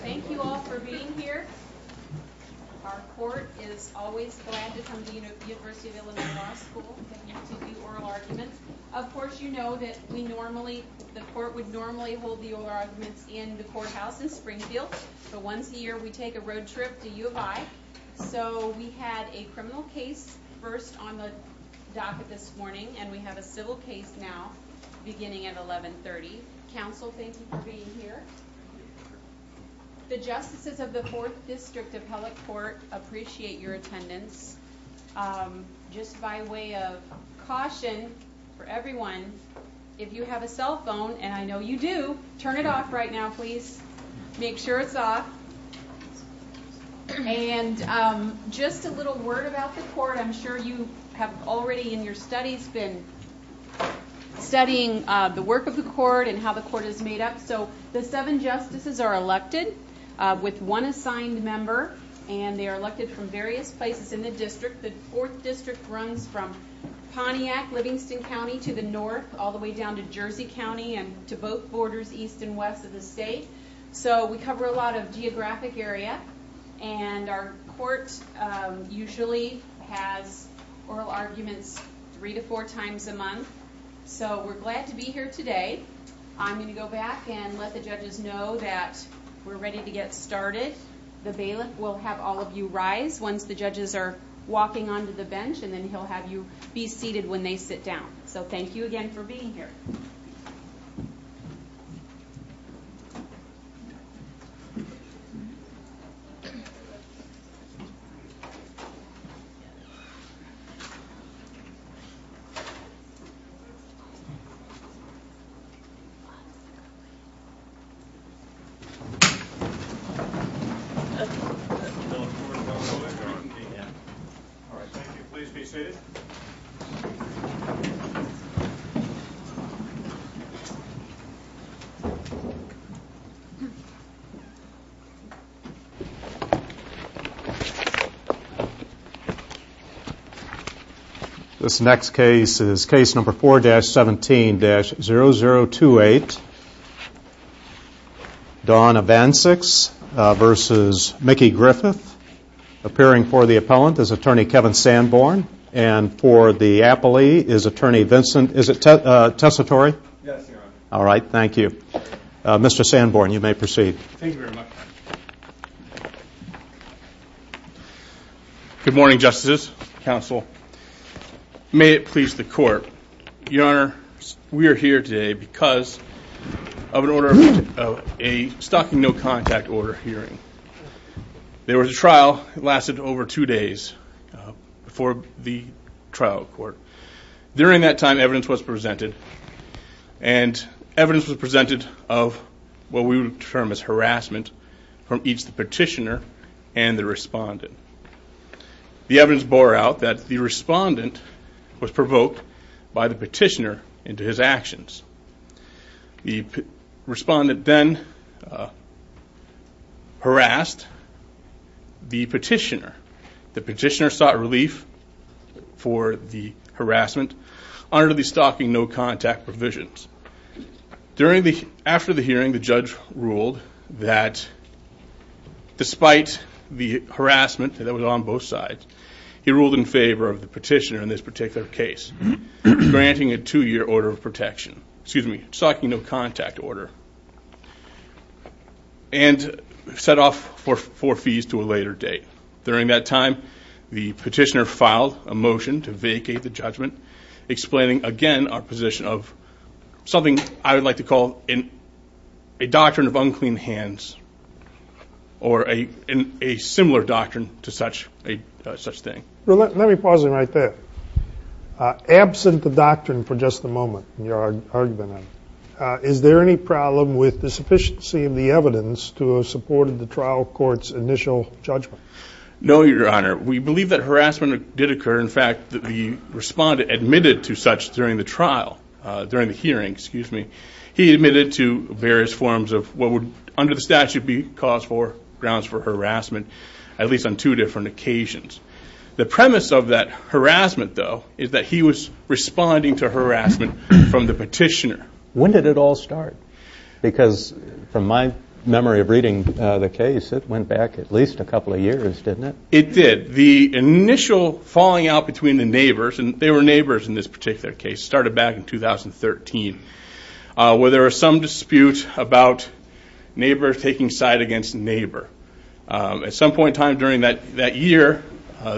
Thank you all for being here. Our court is always glad to come to the University of Illinois Law School to do oral arguments. Of course you know that the court would normally hold the oral arguments in the courthouse in Springfield, but once a year we take a road trip to U of I. So we had a criminal case first on the docket this morning, and we have a civil case now beginning at 1130. Counsel, thank you for being here. The justices of the 4th District Appellate Court appreciate your attendance. Just by way of caution for everyone, if you have a cell phone, and I know you do, turn it off right now please. Make sure it's off. And just a little word about the court. I'm sure you have already in your studies been studying the work of the court and how the court is made up. So the seven justices are elected with one assigned member, and they are elected from various places in the district. The 4th District runs from Pontiac, Livingston County, to the north, all the way down to Jersey County, and to both borders, east and west of the state. So we cover a lot of geographic area, and our court usually has oral arguments three to four times a month. So we're glad to be here today. I'm going to go back and let the judges know that we're ready to get started. The bailiff will have all of you rise once the judges are walking onto the bench, and then he'll have you be seated when they sit down. So thank you again for being here. Thank you. All right, thank you. Please be seated. This next case is Case Number 4-17-0028, Donna Vancex v. Mickey Griffith. Appearing for the appellant is Attorney Kevin Sanborn, and for the appellee is Attorney Vincent, is it Tessitore? Yes, Your Honor. All right, thank you. Mr. Sanborn, you may proceed. Thank you very much. Good morning, Justices, Counsel. May it please the Court. Your Honor, we are here today because of an order of a stalking no contact order hearing. There was a trial that lasted over two days for the trial court. During that time, evidence was presented, and evidence was presented of what we would term as harassment from each petitioner and the respondent. The evidence bore out that the respondent was provoked by the petitioner into his actions. The respondent then harassed the petitioner. The petitioner sought relief for the harassment under the stalking no contact provisions. After the hearing, the judge ruled that despite the harassment that was on both sides, he ruled in favor of the petitioner in this particular case granting a two-year order of protection, excuse me, stalking no contact order, and set off for fees to a later date. During that time, the petitioner filed a motion to vacate the judgment, explaining again our position of something I would like to call a doctrine of unclean hands or a similar doctrine to such a thing. Let me pause it right there. Absent the doctrine for just a moment in your argument, is there any problem with the sufficiency of the evidence to have supported the trial court's initial judgment? No, Your Honor. We believe that harassment did occur. In fact, the respondent admitted to such during the hearing. He admitted to various forms of what would under the statute be grounds for harassment, at least on two different occasions. The premise of that harassment, though, is that he was responding to harassment from the petitioner. When did it all start? Because from my memory of reading the case, it went back at least a couple of years, didn't it? It did. The initial falling out between the neighbors, and they were neighbors in this particular case, started back in 2013 where there was some dispute about neighbors taking side against neighbor. At some point in time during that year,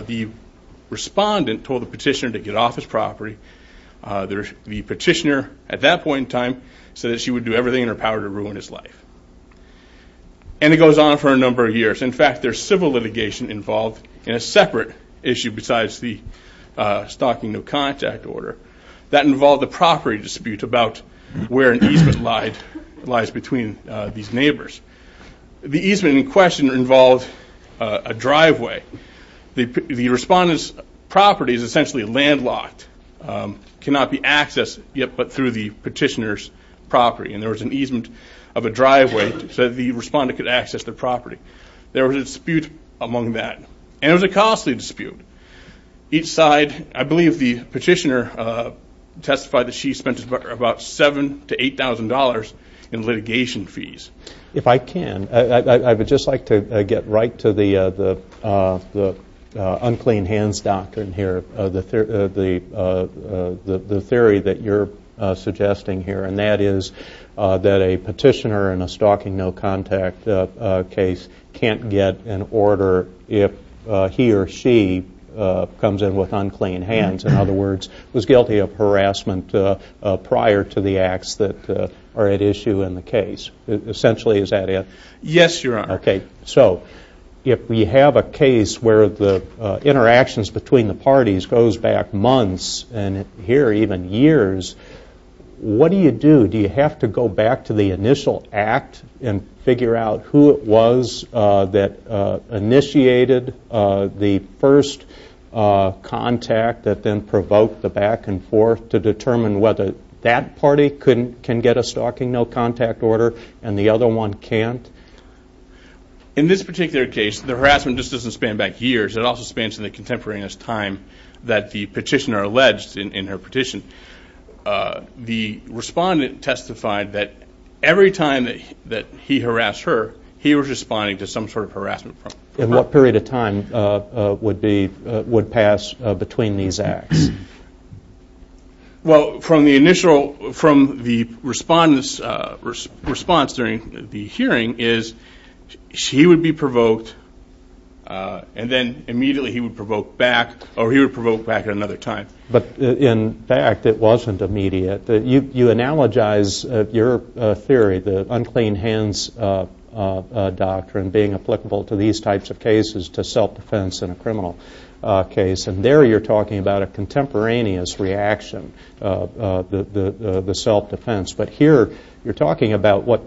the respondent told the petitioner to get off his property. The petitioner at that point in time said that she would do everything in her power to ruin his life. And it goes on for a number of years. In fact, there's civil litigation involved in a separate issue besides the stalking no contact order that involved a property dispute about where an easement lies between these neighbors. The easement in question involved a driveway. The respondent's property is essentially landlocked, cannot be accessed yet but through the petitioner's property. And there was an easement of a driveway so that the respondent could access the property. There was a dispute among that, and it was a costly dispute. Each side, I believe the petitioner testified that she spent about $7,000 to $8,000 in litigation fees. If I can, I would just like to get right to the unclean hands doctrine here, the theory that you're suggesting here, and that is that a petitioner in a stalking no contact case can't get an order if he or she comes in with unclean hands. In other words, was guilty of harassment prior to the acts that are at issue in the case. Essentially, is that it? Yes, Your Honor. Okay, so if we have a case where the interactions between the parties goes back months, and here even years, what do you do? Do you have to go back to the initial act and figure out who it was that initiated the first contact that then provoked the back and forth to determine whether that party can get a stalking no contact order and the other one can't? In this particular case, the harassment just doesn't span back years. It also spans to the contemporaneous time that the petitioner alleged in her petition. The respondent testified that every time that he harassed her, he was responding to some sort of harassment. And what period of time would pass between these acts? Well, from the initial response during the hearing is he would be provoked and then immediately he would provoke back or he would provoke back at another time. But in fact, it wasn't immediate. You analogize your theory, the unclean hands doctrine being applicable to these types of cases to self-defense in a criminal case. And there you're talking about a contemporaneous reaction, the self-defense. But here you're talking about what,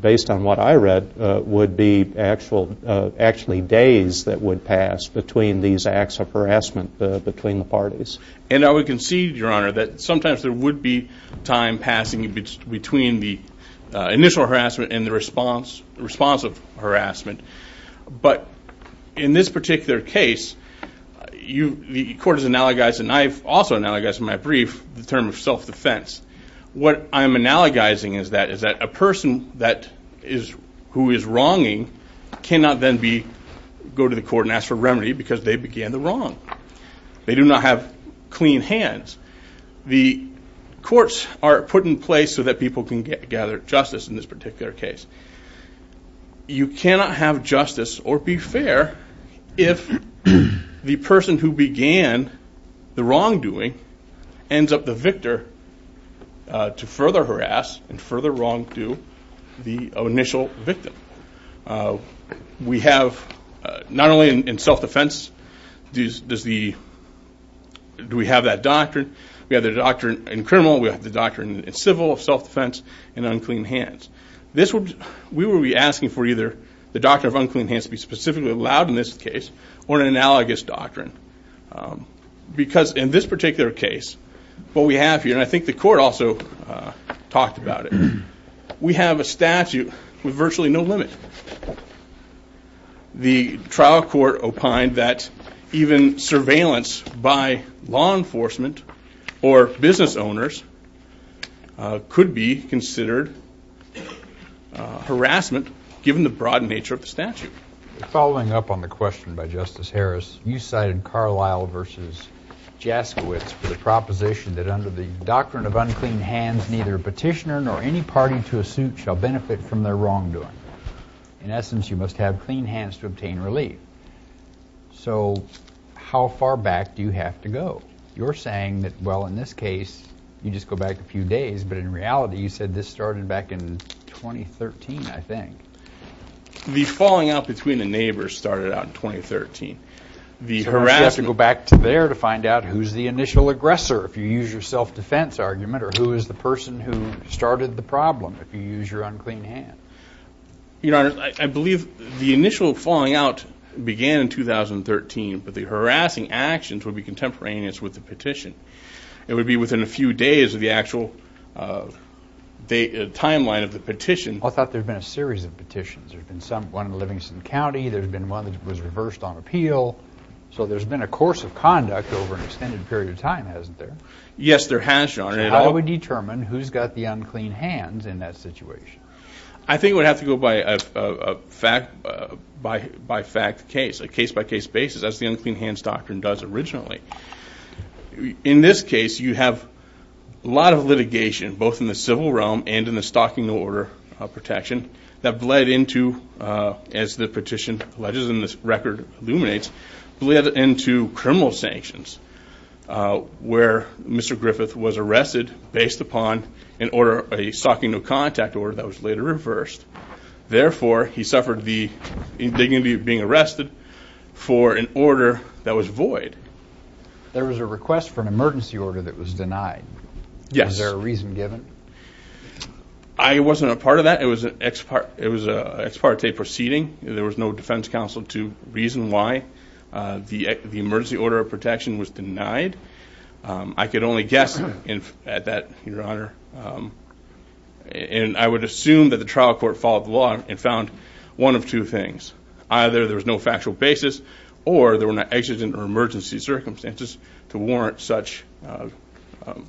based on what I read, would be actually days that would pass between these acts of harassment between the parties. And I would concede, Your Honor, that sometimes there would be time passing between the initial harassment and the response of harassment. But in this particular case, the court has analogized, and I've also analogized in my brief, the term of self-defense. What I'm analogizing is that a person who is wronging cannot then go to the court and ask for remedy because they began the wrong. They do not have clean hands. The courts are put in place so that people can gather justice in this particular case. You cannot have justice or be fair if the person who began the wrongdoing ends up the victor to further harass and further wrongdo the initial victim. We have, not only in self-defense, do we have that doctrine. We have the doctrine in criminal. We have the doctrine in civil, self-defense, and unclean hands. We would be asking for either the doctrine of unclean hands to be specifically allowed in this case or an analogous doctrine. Because in this particular case, what we have here, and I think the court also talked about it, we have a statute with virtually no limit. The trial court opined that even surveillance by law enforcement or business owners could be considered harassment, given the broad nature of the statute. Following up on the question by Justice Harris, you cited Carlisle v. Jaskiewicz for the proposition that under the doctrine of unclean hands, neither a petitioner nor any party to a suit shall benefit from their wrongdoing. In essence, you must have clean hands to obtain relief. So how far back do you have to go? You're saying that, well, in this case, you just go back a few days. But in reality, you said this started back in 2013, I think. The falling out between the neighbors started out in 2013. So you have to go back to there to find out who's the initial aggressor, if you use your self-defense argument, or who is the person who started the problem, if you use your unclean hand. Your Honor, I believe the initial falling out began in 2013. But the harassing actions would be contemporaneous with the petition. It would be within a few days of the actual timeline of the petition. I thought there had been a series of petitions. There's been one in Livingston County. There's been one that was reversed on appeal. So there's been a course of conduct over an extended period of time, hasn't there? Yes, there has, Your Honor. So how do we determine who's got the unclean hands in that situation? I think it would have to go by fact case, a case-by-case basis, as the unclean hands doctrine does originally. In this case, you have a lot of litigation, both in the civil realm and in the stocking order protection, that bled into, as the petition alleges and this record illuminates, bled into criminal sanctions where Mr. Griffith was arrested based upon an order, a stocking no contact order that was later reversed. Therefore, he suffered the indignity of being arrested for an order that was void. There was a request for an emergency order that was denied. Yes. Was there a reason given? I wasn't a part of that. It was an ex parte proceeding. There was no defense counsel to reason why the emergency order of protection was denied. I could only guess at that, Your Honor. And I would assume that the trial court followed the law and found one of two things. Either there was no factual basis or there were no exigent or emergency circumstances to warrant such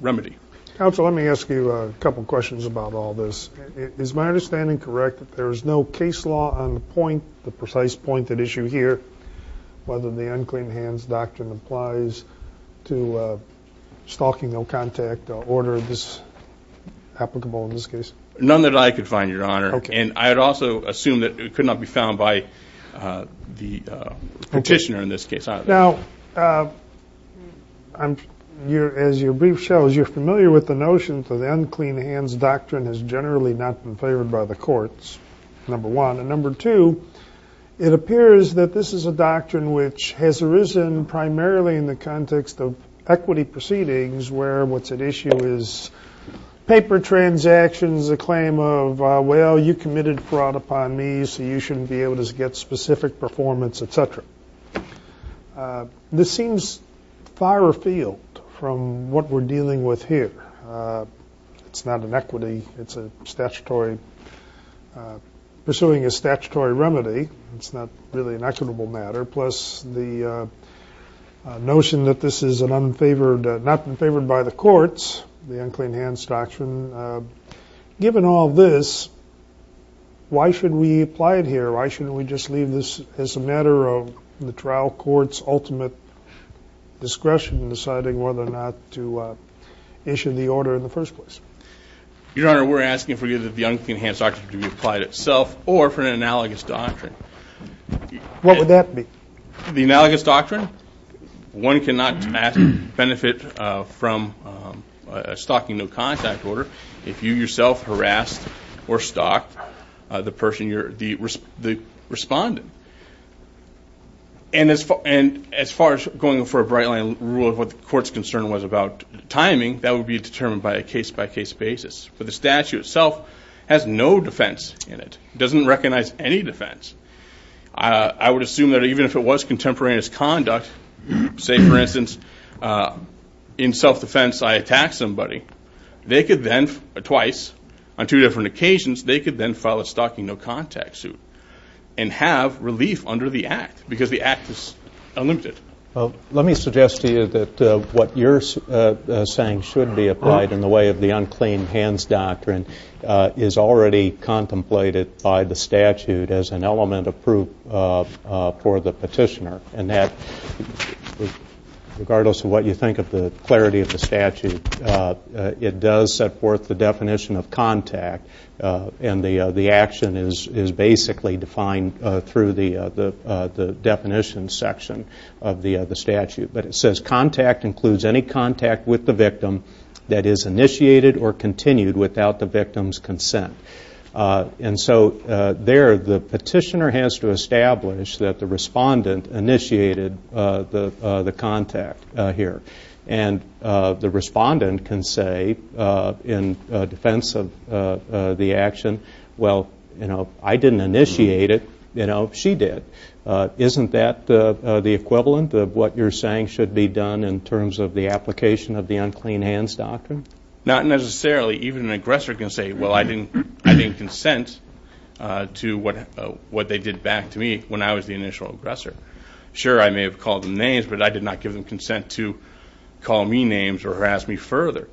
remedy. Counsel, let me ask you a couple of questions about all this. Is my understanding correct that there is no case law on the point, the precise point at issue here, whether the unclean hands doctrine applies to a stocking no contact order that's applicable in this case? None that I could find, Your Honor. Okay. And I would also assume that it could not be found by the petitioner in this case. Now, as your brief shows, you're familiar with the notion that the unclean hands doctrine has generally not been favored by the courts, number one. And number two, it appears that this is a doctrine which has arisen primarily in the context of equity proceedings where what's at issue is paper transactions, a claim of, well, you committed fraud upon me, so you shouldn't be able to get specific performance, et cetera. This seems far afield from what we're dealing with here. It's not an equity. It's pursuing a statutory remedy. It's not really an equitable matter. plus the notion that this has not been favored by the courts, the unclean hands doctrine. Given all this, why should we apply it here? Why shouldn't we just leave this as a matter of the trial court's ultimate discretion in deciding whether or not to issue the order in the first place? Your Honor, we're asking for either the unclean hands doctrine to be applied itself or for an analogous doctrine. What would that be? The analogous doctrine? One cannot benefit from a stalking no contact order if you yourself harassed or stalked the person, the respondent. And as far as going for a bright line rule of what the court's concern was about timing, that would be determined by a case-by-case basis. But the statute itself has no defense in it. It doesn't recognize any defense. I would assume that even if it was contemporaneous conduct, say, for instance, in self-defense I attack somebody, they could then twice, on two different occasions, they could then file a stalking no contact suit and have relief under the act because the act is unlimited. Let me suggest to you that what you're saying should be applied in the way of the unclean hands doctrine is already contemplated by the statute as an element of proof for the petitioner, and that regardless of what you think of the clarity of the statute, it does set forth the definition of contact, and the action is basically defined through the definition section of the statute. But it says contact includes any contact with the victim that is initiated or continued without the victim's consent. And so there the petitioner has to establish that the respondent initiated the contact here. And the respondent can say in defense of the action, well, you know, I didn't initiate it, you know, she did. Isn't that the equivalent of what you're saying should be done in terms of the application of the unclean hands doctrine? Not necessarily. Even an aggressor can say, well, I didn't consent to what they did back to me when I was the initial aggressor. Sure, I may have called them names, but I did not give them consent to call me names or harass me further.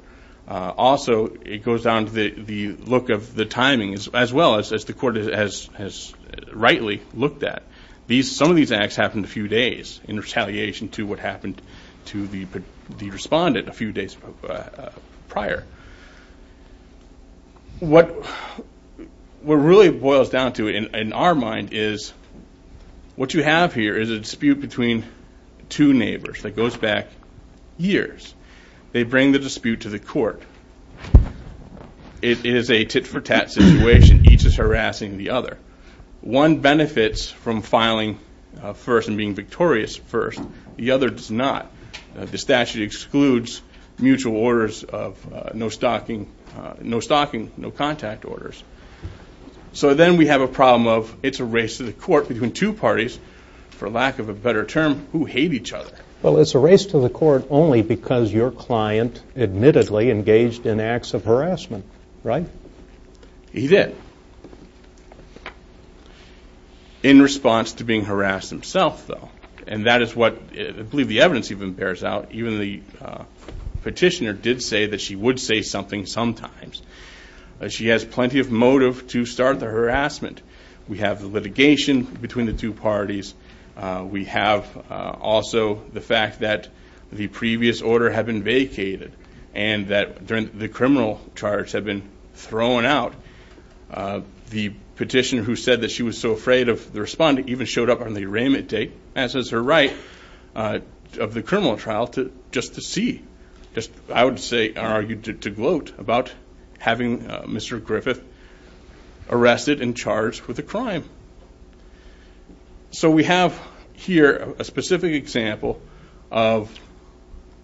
Also, it goes down to the look of the timing as well as the court has rightly looked at. Some of these acts happened a few days in retaliation to what happened to the respondent a few days prior. What really boils down to in our mind is what you have here is a dispute between two neighbors that goes back years. They bring the dispute to the court. It is a tit-for-tat situation. Each is harassing the other. One benefits from filing first and being victorious first. The other does not. The statute excludes mutual orders of no stalking, no contact orders. So then we have a problem of it's a race to the court between two parties, for lack of a better term, who hate each other. Well, it's a race to the court only because your client admittedly engaged in acts of harassment, right? He did. In response to being harassed himself, though. And that is what I believe the evidence even bears out. Even the petitioner did say that she would say something sometimes. She has plenty of motive to start the harassment. We have the litigation between the two parties. We have also the fact that the previous order had been vacated and that the criminal charge had been thrown out. The petitioner who said that she was so afraid of the respondent even showed up on the arraignment date, as is her right, of the criminal trial just to see. I would argue to gloat about having Mr. Griffith arrested and charged with a crime. So we have here a specific example of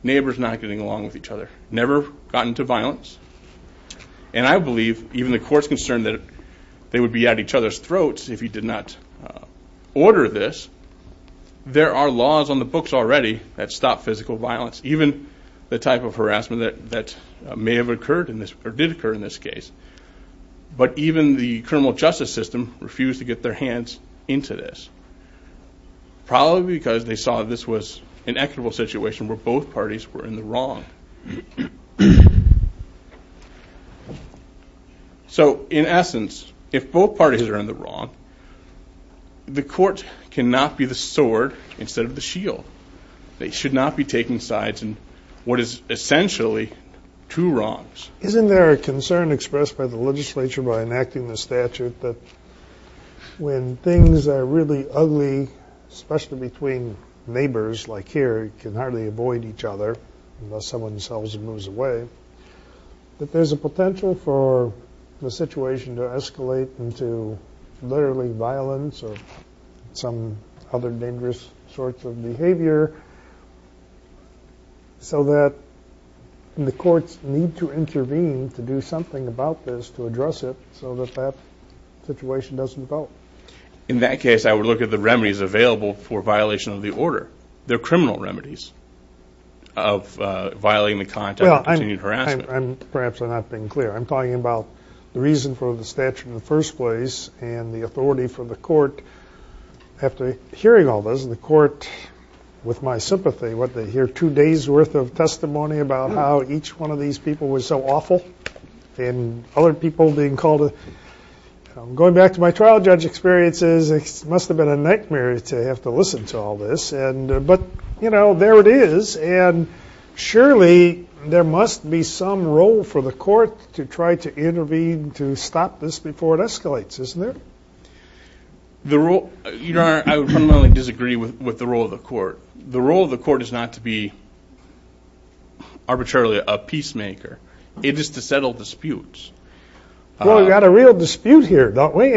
neighbors not getting along with each other. Never gotten to violence. And I believe even the court's concerned that they would be at each other's throats if he did not order this. There are laws on the books already that stop physical violence, even the type of harassment that may have occurred or did occur in this case. But even the criminal justice system refused to get their hands into this. Probably because they saw this was an equitable situation where both parties were in the wrong. So in essence, if both parties are in the wrong, the court cannot be the sword instead of the shield. They should not be taking sides in what is essentially two wrongs. Isn't there a concern expressed by the legislature by enacting the statute that when things are really ugly, especially between neighbors like here, you can hardly avoid each other unless someone sells and moves away, that there's a potential for the situation to escalate into literally violence or some other dangerous sorts of behavior so that the courts need to intervene to do something about this, to address it, so that that situation doesn't develop. In that case, I would look at the remedies available for violation of the order. There are criminal remedies of violating the contract of continued harassment. Perhaps I'm not being clear. I'm talking about the reason for the statute in the first place and the authority for the court. After hearing all this, the court, with my sympathy, hear two days' worth of testimony about how each one of these people was so awful and other people being called. Going back to my trial judge experiences, it must have been a nightmare to have to listen to all this. But, you know, there it is. And surely there must be some role for the court to try to intervene to stop this before it escalates, isn't there? Your Honor, I would fundamentally disagree with the role of the court. The role of the court is not to be arbitrarily a peacemaker. It is to settle disputes. Well, we've got a real dispute here, don't we?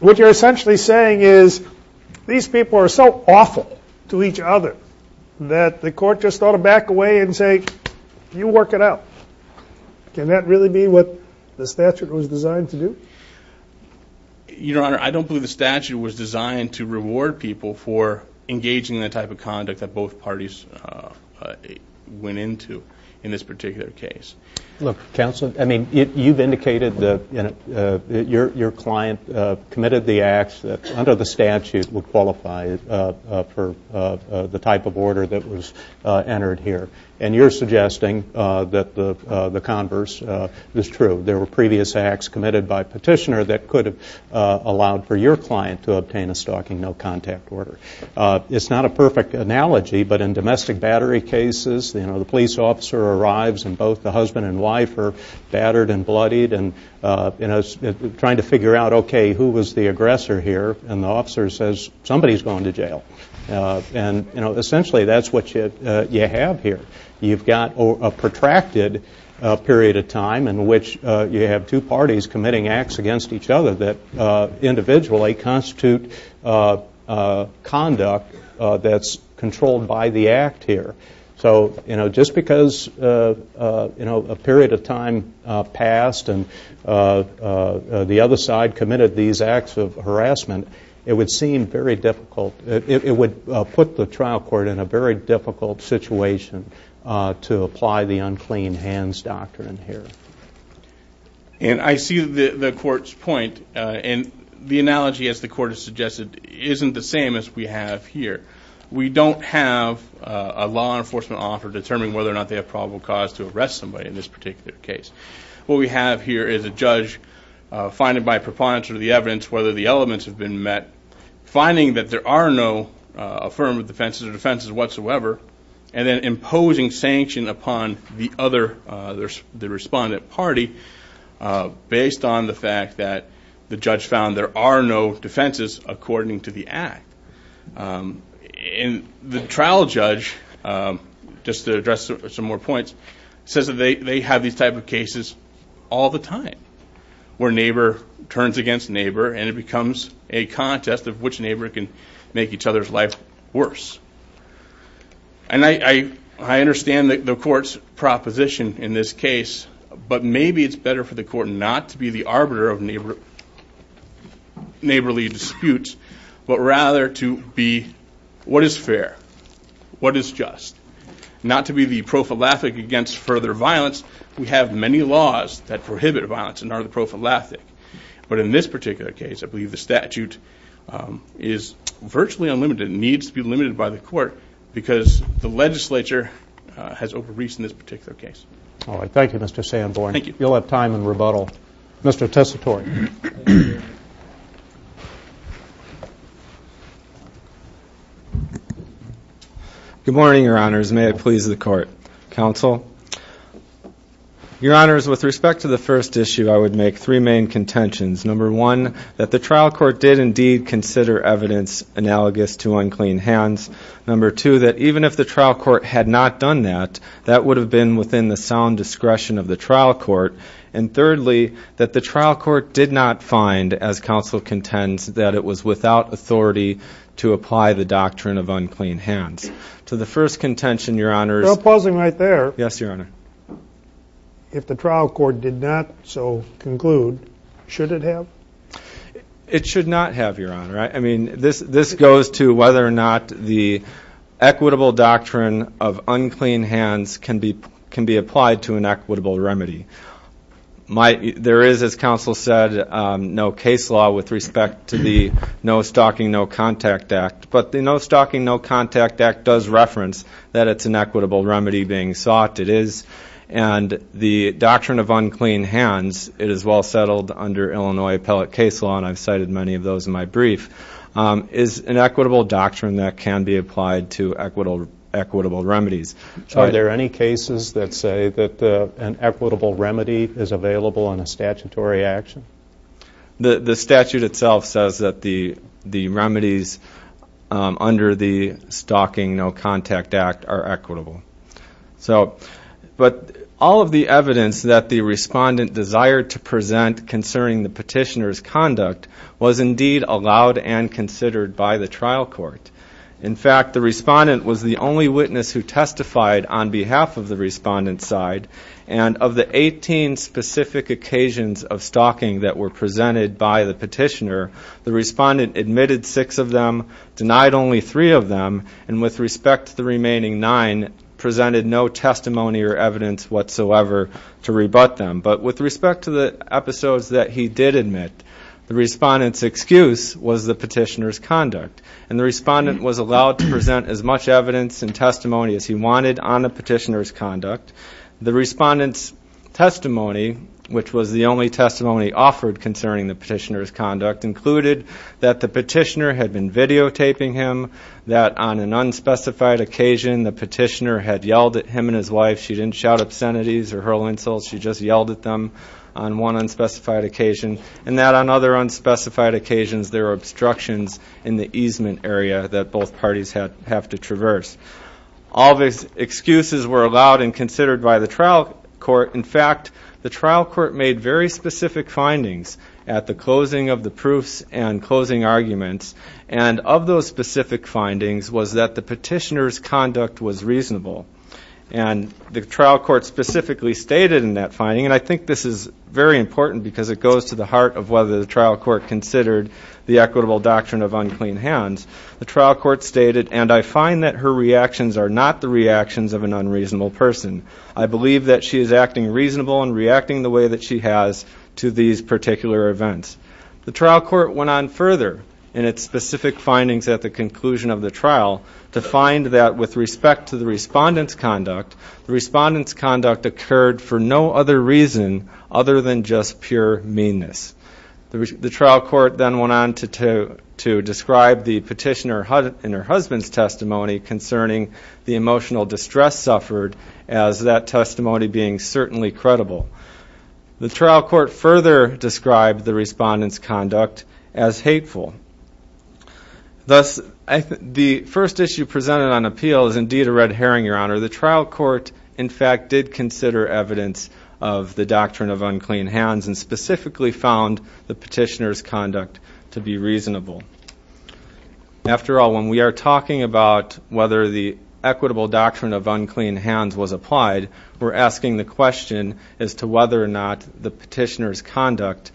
What you're essentially saying is these people are so awful to each other that the court just ought to back away and say, you work it out. Can that really be what the statute was designed to do? Your Honor, I don't believe the statute was designed to reward people for engaging in the type of conduct that both parties went into in this particular case. Look, counsel, I mean, you've indicated that your client committed the acts that under the statute would qualify for the type of order that was entered here. And you're suggesting that the converse is true. There were previous acts committed by petitioner that could have allowed for your client to obtain a stalking no-contact order. It's not a perfect analogy, but in domestic battery cases, you know, a police officer arrives and both the husband and wife are battered and bloodied and, you know, trying to figure out, okay, who was the aggressor here? And the officer says, somebody's going to jail. And, you know, essentially that's what you have here. You've got a protracted period of time in which you have two parties committing acts against each other that individually constitute conduct that's controlled by the act here. So, you know, just because, you know, a period of time passed and the other side committed these acts of harassment, it would seem very difficult, it would put the trial court in a very difficult situation to apply the unclean hands doctrine here. And I see the court's point. And the analogy, as the court has suggested, isn't the same as we have here. We don't have a law enforcement officer determining whether or not they have probable cause to arrest somebody in this particular case. What we have here is a judge finding by preponderance of the evidence whether the elements have been met, finding that there are no affirmative defenses or defenses whatsoever, and then imposing sanction upon the other, the respondent party based on the fact that the judge found there are no defenses according to the act. And the trial judge, just to address some more points, says that they have these type of cases all the time where neighbor turns against neighbor and it becomes a contest of which neighbor can make each other's life worse. And I understand the court's proposition in this case, but maybe it's better for the court not to be the arbiter of neighborly disputes, but rather to be what is fair, what is just. Not to be the prophylactic against further violence. We have many laws that prohibit violence and are the prophylactic. But in this particular case, I believe the statute is virtually unlimited. It needs to be limited by the court because the legislature has overreached in this particular case. All right. Thank you, Mr. Sanborn. Thank you. You'll have time in rebuttal. Mr. Tessitore. Good morning, Your Honors. May it please the court. Counsel. Your Honors, with respect to the first issue, I would make three main contentions. Number one, that the trial court did indeed consider evidence analogous to unclean hands. Number two, that even if the trial court had not done that, that would have been within the sound discretion of the trial court. And thirdly, that the trial court did not find, as counsel contends, that it was without authority to apply the doctrine of unclean hands. To the first contention, Your Honors. Pausing right there. Yes, Your Honor. If the trial court did not so conclude, should it have? It should not have, Your Honor. I mean, this goes to whether or not the equitable doctrine of unclean hands can be applied to an equitable remedy. There is, as counsel said, no case law with respect to the No Stalking, No Contact Act. But the No Stalking, No Contact Act does reference that it's an equitable remedy being sought. It is. And the doctrine of unclean hands, it is well settled under Illinois appellate case law, and I've cited many of those in my brief, is an equitable doctrine that can be applied to equitable remedies. Are there any cases that say that an equitable remedy is available in a statutory action? The statute itself says that the remedies under the Stalking, No Contact Act are equitable. But all of the evidence that the respondent desired to present concerning the petitioner's conduct was indeed allowed and considered by the trial court. In fact, the respondent was the only witness who testified on behalf of the respondent's side, and of the 18 specific occasions of stalking that were presented by the petitioner, the respondent admitted six of them, denied only three of them, and with respect to the remaining nine, presented no testimony or evidence whatsoever to rebut them. But with respect to the episodes that he did admit, the respondent's excuse was the petitioner's conduct, and the respondent was allowed to present as much evidence and testimony as he wanted on the petitioner's conduct. The respondent's testimony, which was the only testimony offered concerning the petitioner's conduct, included that the petitioner had been videotaping him, that on an unspecified occasion, the petitioner had yelled at him and his wife. She didn't shout obscenities or hurl insults, she just yelled at them on one unspecified occasion, and that on other unspecified occasions there were obstructions in the easement area that both parties have to traverse. All these excuses were allowed and considered by the trial court. In fact, the trial court made very specific findings at the closing of the proofs and closing arguments, and of those specific findings was that the petitioner's conduct was reasonable. And the trial court specifically stated in that finding, and I think this is very important because it goes to the heart of whether the trial court considered the equitable doctrine of unclean hands, the trial court stated, and I find that her reactions are not the reactions of an unreasonable person. I believe that she is acting reasonable and reacting the way that she has to these particular events. The trial court went on further in its specific findings at the conclusion of the trial to find that with respect to the respondent's conduct, the respondent's conduct occurred for no other reason other than just pure meanness. The trial court then went on to describe the petitioner and her husband's testimony concerning the emotional distress suffered as that testimony being certainly credible. The trial court further described the respondent's conduct as hateful. Thus, the first issue presented on appeal is indeed a red herring, Your Honor. The trial court, in fact, did consider evidence of the doctrine of unclean hands and specifically found the petitioner's conduct to be reasonable. After all, when we are talking about whether the equitable doctrine of unclean hands was applied, we're asking the question as to whether or not the petitioner's conduct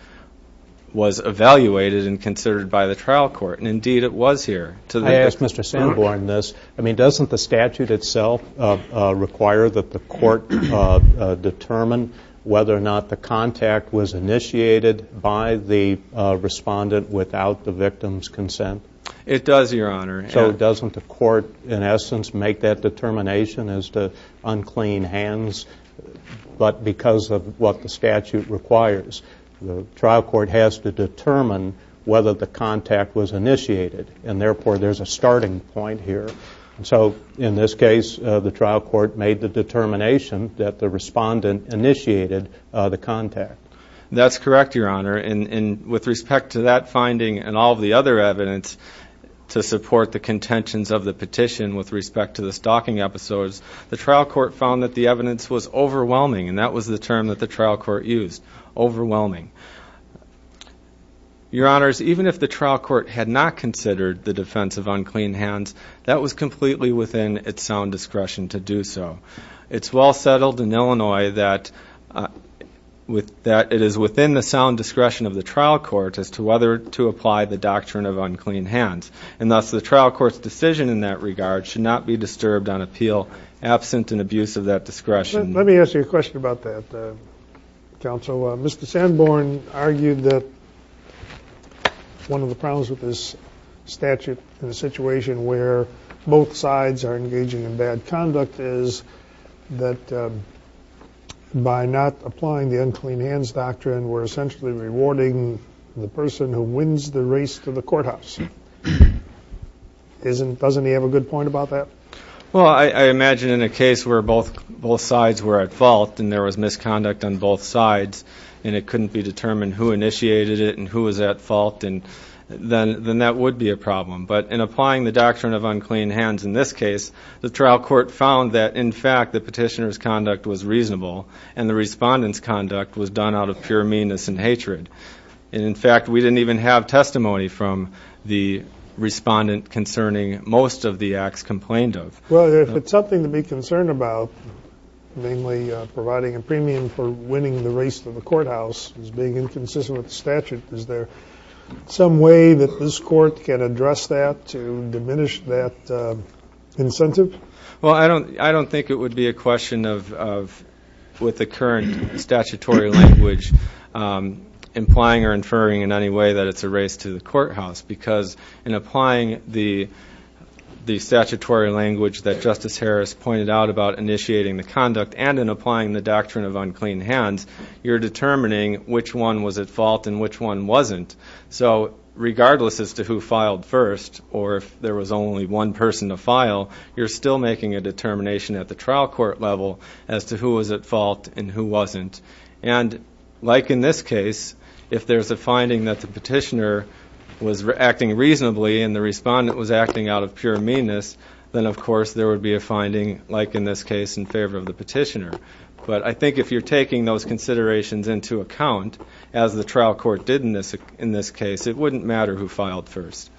was evaluated and considered by the trial court, and indeed it was here. I ask Mr. Sanborn this. I mean, doesn't the statute itself require that the court determine whether or not the contact was initiated by the respondent without the victim's consent? It does, Your Honor. So doesn't the court, in essence, make that determination as to unclean hands? But because of what the statute requires, the trial court has to determine whether the contact was initiated and therefore there's a starting point here. So in this case, the trial court made the determination that the respondent initiated the contact. That's correct, Your Honor. And with respect to that finding and all of the other evidence to support the contentions of the petition with respect to the stalking episodes, the trial court found that the evidence was overwhelming, and that was the term that the trial court used, overwhelming. Your Honors, even if the trial court had not considered the defense of unclean hands, that was completely within its sound discretion to do so. It's well settled in Illinois that it is within the sound discretion of the trial court as to whether to apply the doctrine of unclean hands, and thus the trial court's decision in that regard should not be disturbed on appeal absent an abuse of that discretion. Let me ask you a question about that, Counsel. So Mr. Sanborn argued that one of the problems with this statute in a situation where both sides are engaging in bad conduct is that by not applying the unclean hands doctrine, we're essentially rewarding the person who wins the race to the courthouse. Doesn't he have a good point about that? Well, I imagine in a case where both sides were at fault and there was misconduct on both sides and it couldn't be determined who initiated it and who was at fault, then that would be a problem. But in applying the doctrine of unclean hands in this case, the trial court found that, in fact, the petitioner's conduct was reasonable and the respondent's conduct was done out of pure meanness and hatred. In fact, we didn't even have testimony from the respondent concerning most of the acts complained of. Well, if it's something to be concerned about, namely providing a premium for winning the race to the courthouse as being inconsistent with the statute, is there some way that this court can address that to diminish that incentive? Well, I don't think it would be a question with the current statutory language implying or inferring in any way that it's a race to the courthouse because in applying the statutory language that Justice Harris pointed out about initiating the conduct and in applying the doctrine of unclean hands, you're determining which one was at fault and which one wasn't. So regardless as to who filed first or if there was only one person to file, you're still making a determination at the trial court level as to who was at fault and who wasn't. And like in this case, if there's a finding that the petitioner was acting reasonably and the respondent was acting out of pure meanness, then, of course, there would be a finding, like in this case, in favor of the petitioner. But I think if you're taking those considerations into account, as the trial court did in this case, it wouldn't matter who filed first.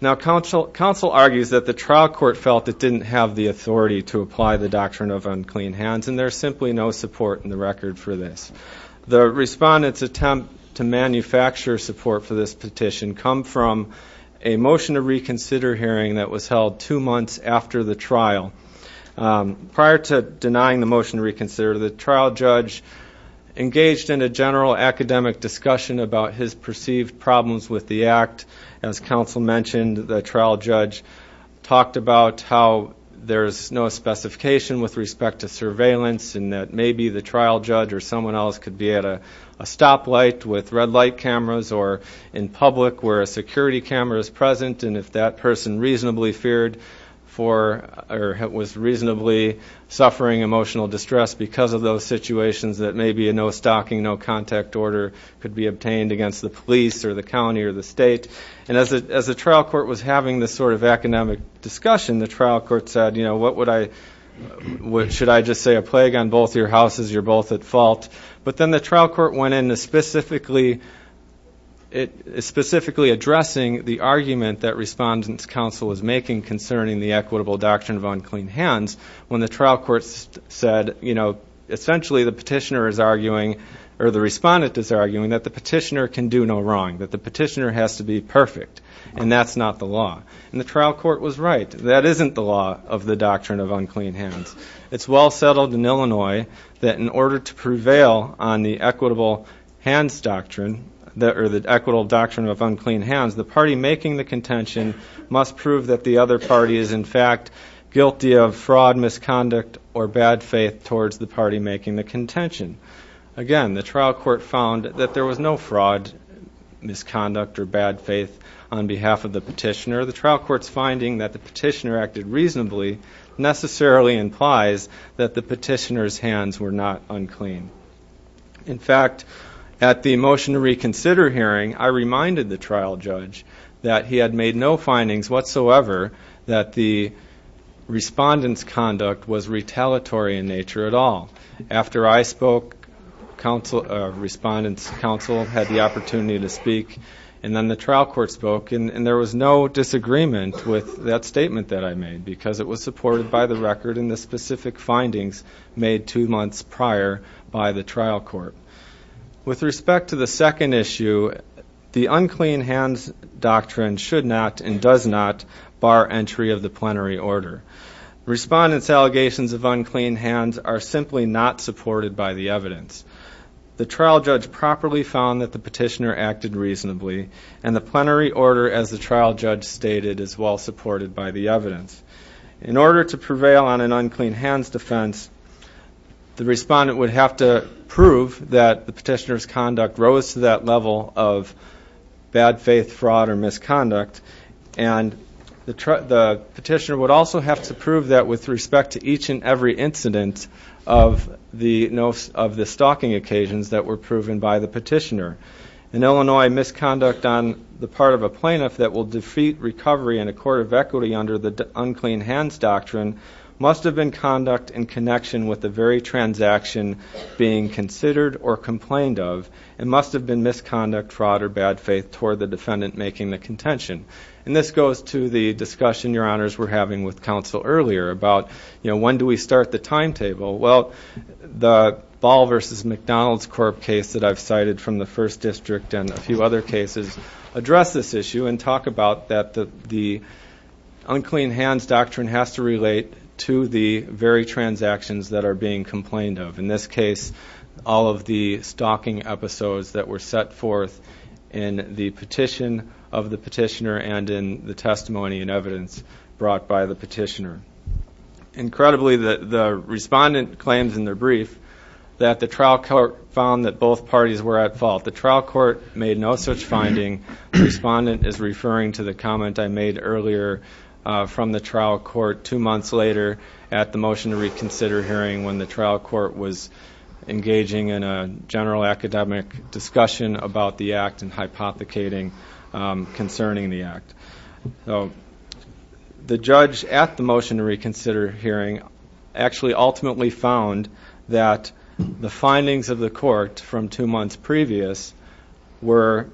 Now, counsel argues that the trial court felt it didn't have the authority to apply the doctrine of unclean hands, and there's simply no support in the record for this. The respondent's attempt to manufacture support for this petition come from a motion to reconsider hearing that was held two months after the trial. Prior to denying the motion to reconsider, the trial judge engaged in a general academic discussion about his perceived problems with the act. As counsel mentioned, the trial judge talked about how there's no specification with respect to surveillance and that maybe the trial judge or someone else could be at a stoplight with red light cameras or in public where a security camera is present, and if that person reasonably feared for or was reasonably suffering emotional distress because of those situations, that maybe a no-stalking, no-contact order could be obtained against the police or the county or the state. And as the trial court was having this sort of academic discussion, the trial court said, you know, should I just say a plague on both your houses? You're both at fault. But then the trial court went in specifically addressing the argument that respondent's counsel was making concerning the equitable doctrine of unclean hands when the trial court said, you know, essentially the petitioner is arguing or the respondent is arguing that the petitioner can do no wrong, that the petitioner has to be perfect, and that's not the law. And the trial court was right. That isn't the law of the doctrine of unclean hands. It's well settled in Illinois that in order to prevail on the equitable hands doctrine or the equitable doctrine of unclean hands, the party making the contention must prove that the other party is in fact guilty of fraud, misconduct, or bad faith towards the party making the contention. Again, the trial court found that there was no fraud, misconduct, or bad faith on behalf of the petitioner. So the trial court's finding that the petitioner acted reasonably necessarily implies that the petitioner's hands were not unclean. In fact, at the motion to reconsider hearing, I reminded the trial judge that he had made no findings whatsoever that the respondent's conduct was retaliatory in nature at all. After I spoke, respondent's counsel had the opportunity to speak, and then the trial court spoke, and there was no disagreement with that statement that I made because it was supported by the record and the specific findings made two months prior by the trial court. With respect to the second issue, the unclean hands doctrine should not and does not bar entry of the plenary order. Respondent's allegations of unclean hands are simply not supported by the evidence. The trial judge properly found that the petitioner acted reasonably, and the plenary order, as the trial judge stated, is well supported by the evidence. In order to prevail on an unclean hands defense, the respondent would have to prove that the petitioner's conduct rose to that level of bad faith, fraud, or misconduct, and the petitioner would also have to prove that with respect to each and every incident of the stalking occasions that were proven by the petitioner. In Illinois, misconduct on the part of a plaintiff that will defeat recovery in a court of equity under the unclean hands doctrine must have been conduct in connection with the very transaction being considered or complained of, and must have been misconduct, fraud, or bad faith toward the defendant making the contention. And this goes to the discussion, Your Honors, we're having with counsel earlier about when do we start the timetable. Well, the Ball v. McDonald's Corp. case that I've cited from the First District and a few other cases address this issue and talk about that the unclean hands doctrine has to relate to the very transactions that are being complained of. In this case, all of the stalking episodes that were set forth in the petition of the petitioner and in the testimony and evidence brought by the petitioner. Incredibly, the respondent claims in their brief that the trial court found that both parties were at fault. The trial court made no such finding. The respondent is referring to the comment I made earlier from the trial court two months later at the motion to reconsider hearing when the trial court was engaging in a general academic discussion about the act and hypothecating concerning the act. The judge at the motion to reconsider hearing actually ultimately found that the findings of the court from two months previous were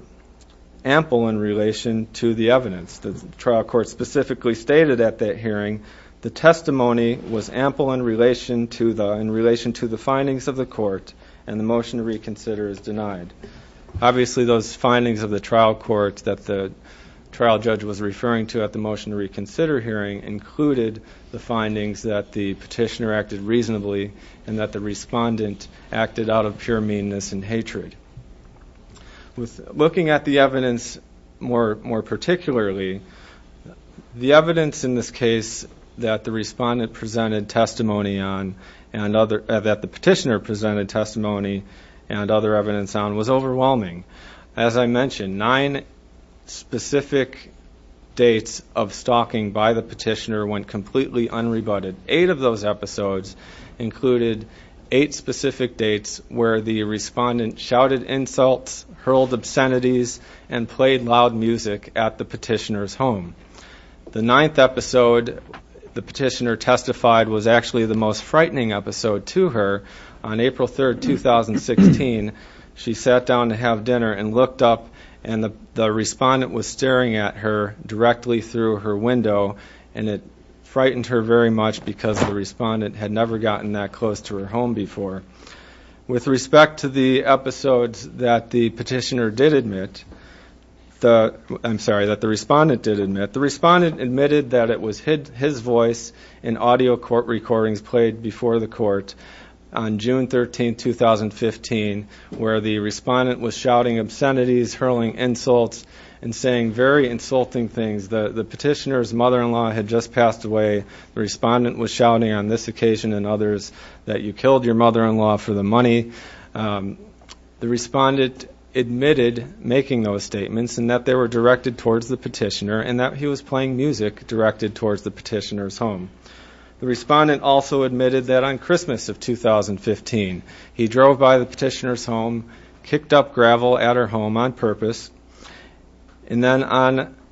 ample in relation to the evidence. The trial court specifically stated at that hearing the testimony was ample in relation to the findings of the court and the motion to reconsider is denied. Obviously, those findings of the trial court that the trial judge was referring to at the motion to reconsider hearing included the findings that the petitioner acted reasonably and that the respondent acted out of pure meanness and hatred. Looking at the evidence more particularly, the evidence in this case that the respondent presented testimony on and that the petitioner presented testimony and other evidence on was overwhelming. As I mentioned, nine specific dates of stalking by the petitioner went completely unrebutted. Eight of those episodes included eight specific dates where the respondent shouted insults, hurled obscenities, and played loud music at the petitioner's home. The ninth episode the petitioner testified was actually the most frightening episode to her. On April 3, 2016, she sat down to have dinner and looked up and the respondent was staring at her directly through her window and it frightened her very much because the respondent had never gotten that close to her home before. With respect to the episodes that the petitioner did admit, I'm sorry, that the respondent did admit, the respondent admitted that it was his voice in audio court recordings played before the court on June 13, 2015, where the respondent was shouting obscenities, hurling insults, and saying very insulting things. The petitioner's mother-in-law had just passed away. The respondent was shouting on this occasion and others that you killed your mother-in-law for the money. The respondent admitted making those statements and that they were directed towards the petitioner and that he was playing music directed towards the petitioner's home. The respondent also admitted that on Christmas of 2015, he drove by the petitioner's home, kicked up gravel at her home on purpose, and then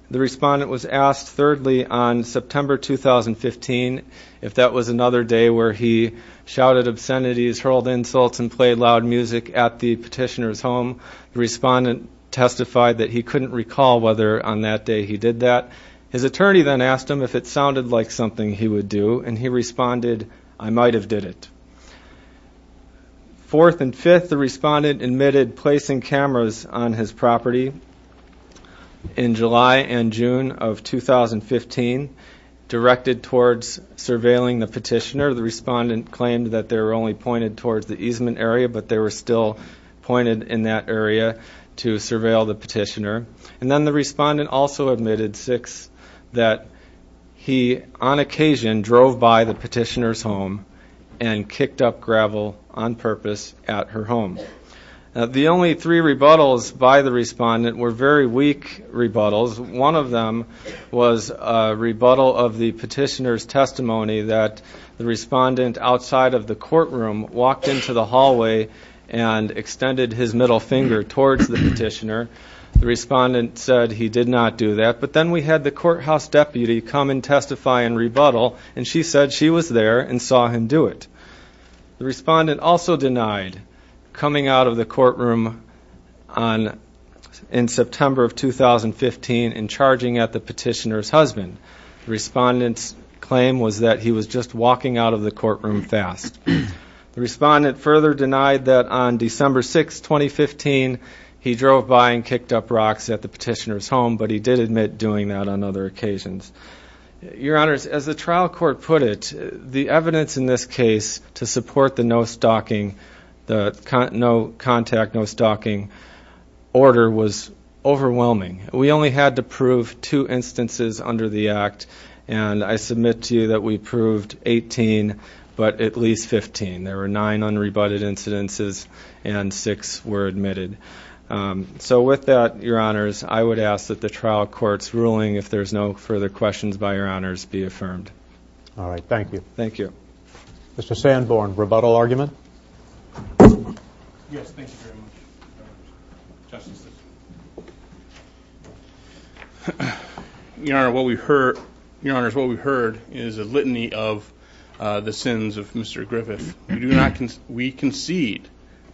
the respondent was asked thirdly on September 2015 if that was another day where he shouted obscenities, hurled insults, and played loud music at the petitioner's home. The respondent testified that he couldn't recall whether on that day he did that. His attorney then asked him if it sounded like something he would do, and he responded, I might have did it. Fourth and fifth, the respondent admitted placing cameras on his property in July and June of 2015 directed towards surveilling the petitioner. The respondent claimed that they were only pointed towards the easement area, but they were still pointed in that area to surveil the petitioner. And then the respondent also admitted that he, on occasion, drove by the petitioner's home and kicked up gravel on purpose at her home. The only three rebuttals by the respondent were very weak rebuttals. One of them was a rebuttal of the petitioner's testimony that the respondent, outside of the courtroom, walked into the hallway and extended his middle finger towards the petitioner. The respondent said he did not do that. But then we had the courthouse deputy come and testify and rebuttal, and she said she was there and saw him do it. The respondent also denied coming out of the courtroom in September of 2015 and charging at the petitioner's husband. The respondent's claim was that he was just walking out of the courtroom fast. The respondent further denied that on December 6, 2015, he drove by and kicked up rocks at the petitioner's home, but he did admit doing that on other occasions. Your Honors, as the trial court put it, the evidence in this case to support the no-stalking, the no-contact, no-stalking order was overwhelming. We only had to prove two instances under the act, and I submit to you that we proved 18, but at least 15. There were nine unrebutted incidences and six were admitted. So with that, Your Honors, I would ask that the trial court's ruling, if there's no further questions by Your Honors, be affirmed. All right, thank you. Thank you. Mr. Sanborn, rebuttal argument? Yes, thank you very much, Justice. Your Honors, what we heard is a litany of the sins of Mr. Griffith. We concede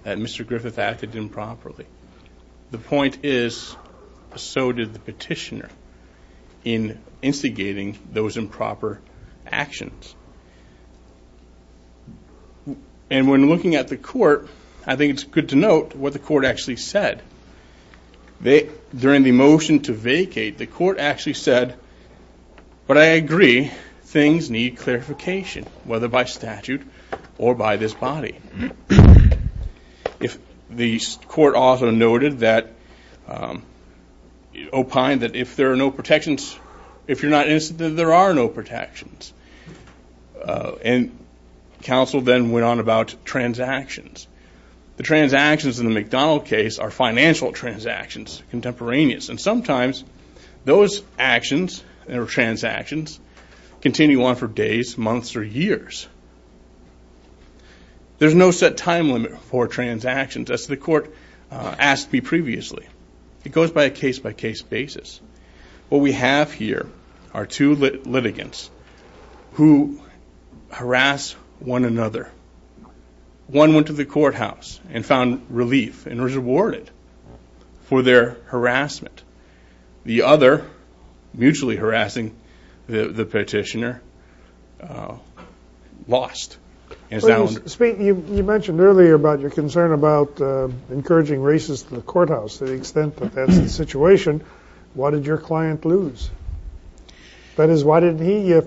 that Mr. Griffith acted improperly. The point is so did the petitioner in instigating those improper actions. And when looking at the court, I think it's good to note what the court actually said. During the motion to vacate, the court actually said, but I agree, things need clarification, whether by statute or by this body. The court also noted that, opined that if there are no protections, if you're not innocent, then there are no protections. And counsel then went on about transactions. The transactions in the McDonald case are financial transactions, contemporaneous, and sometimes those actions or transactions continue on for days, months, or years. There's no set time limit for transactions, as the court asked me previously. It goes by a case-by-case basis. What we have here are two litigants who harass one another. One went to the courthouse and found relief and was rewarded for their harassment. The other, mutually harassing the petitioner, lost. You mentioned earlier about your concern about encouraging racists in the courthouse to the extent that that's the situation. Why did your client lose? That is, why didn't he, if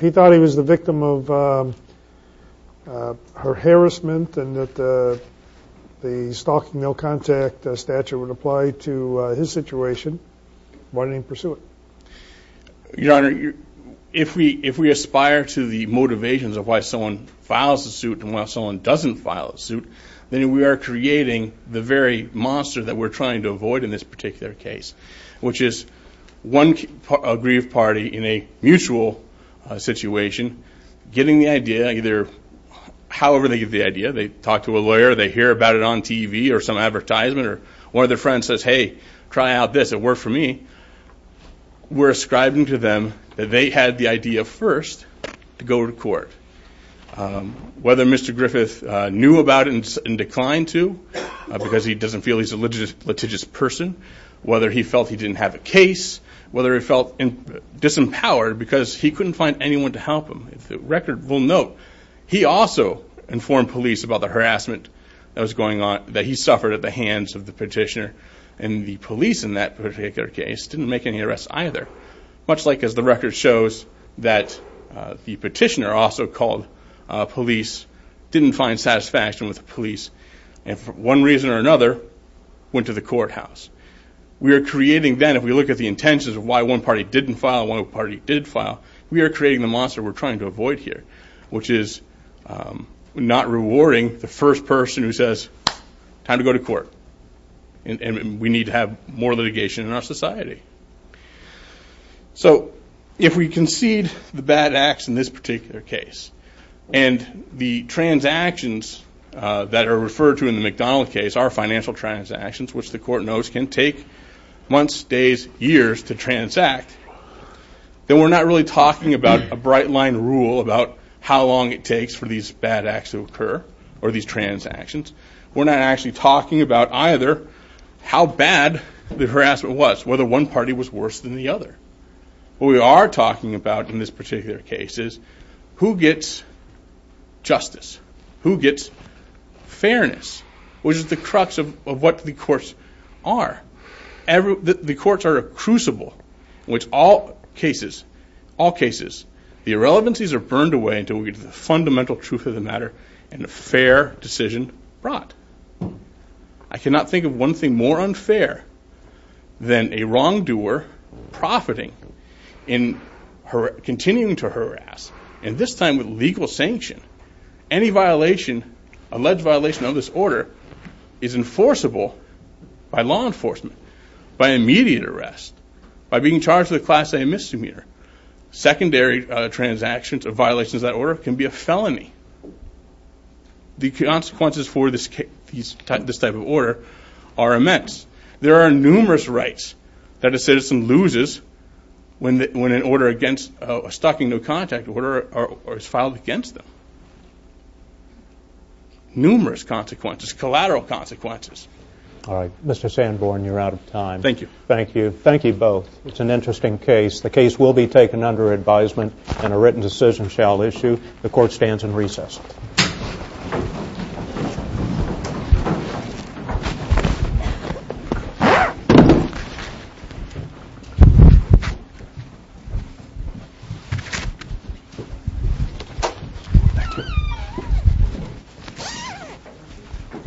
he thought he was the victim of her harassment and that the stalking no contact statute would apply to his situation, why didn't he pursue it? Your Honor, if we aspire to the motivations of why someone files a suit and why someone doesn't file a suit, then we are creating the very monster that we're trying to avoid in this particular case, which is one aggrieved party in a mutual situation getting the idea, either however they get the idea, they talk to a lawyer, they hear about it on TV or some advertisement, or one of their friends says, hey, try out this, it worked for me. We're ascribing to them that they had the idea first to go to court. Whether Mr. Griffith knew about it and declined to because he doesn't feel he's a litigious person, whether he felt he didn't have a case, whether he felt disempowered because he couldn't find anyone to help him. The record will note he also informed police about the harassment that was going on, that he suffered at the hands of the petitioner, and the police in that particular case didn't make any arrests either, much like as the record shows that the petitioner also called police, didn't find satisfaction with the police, and for one reason or another went to the courthouse. We are creating then, if we look at the intentions of why one party didn't file and one party did file, we are creating the monster we're trying to avoid here, which is not rewarding the first person who says time to go to court and we need to have more litigation in our society. So if we concede the bad acts in this particular case and the transactions that are referred to in the McDonald case are financial transactions, which the court knows can take months, days, years to transact, then we're not really talking about a bright line rule about how long it takes for these bad acts to occur or these transactions. We're not actually talking about either how bad the harassment was, whether one party was worse than the other. What we are talking about in this particular case is who gets justice, who gets fairness, which is the crux of what the courts are. The courts are a crucible in which all cases, all cases, the irrelevancies are burned away until we get to the fundamental truth of the matter and a fair decision brought. I cannot think of one thing more unfair than a wrongdoer profiting in continuing to harass, and this time with legal sanction. Any violation, alleged violation of this order, is enforceable by law enforcement, by immediate arrest, by being charged with a class A misdemeanor. Secondary transactions or violations of that order can be a felony. The consequences for this type of order are immense. There are numerous rights that a citizen loses when a stalking no contact order is filed against them, numerous consequences, collateral consequences. All right. Mr. Sanborn, you're out of time. Thank you. Thank you. Thank you both. It's an interesting case. The case will be taken under advisement and a written decision shall issue. The court stands in recess.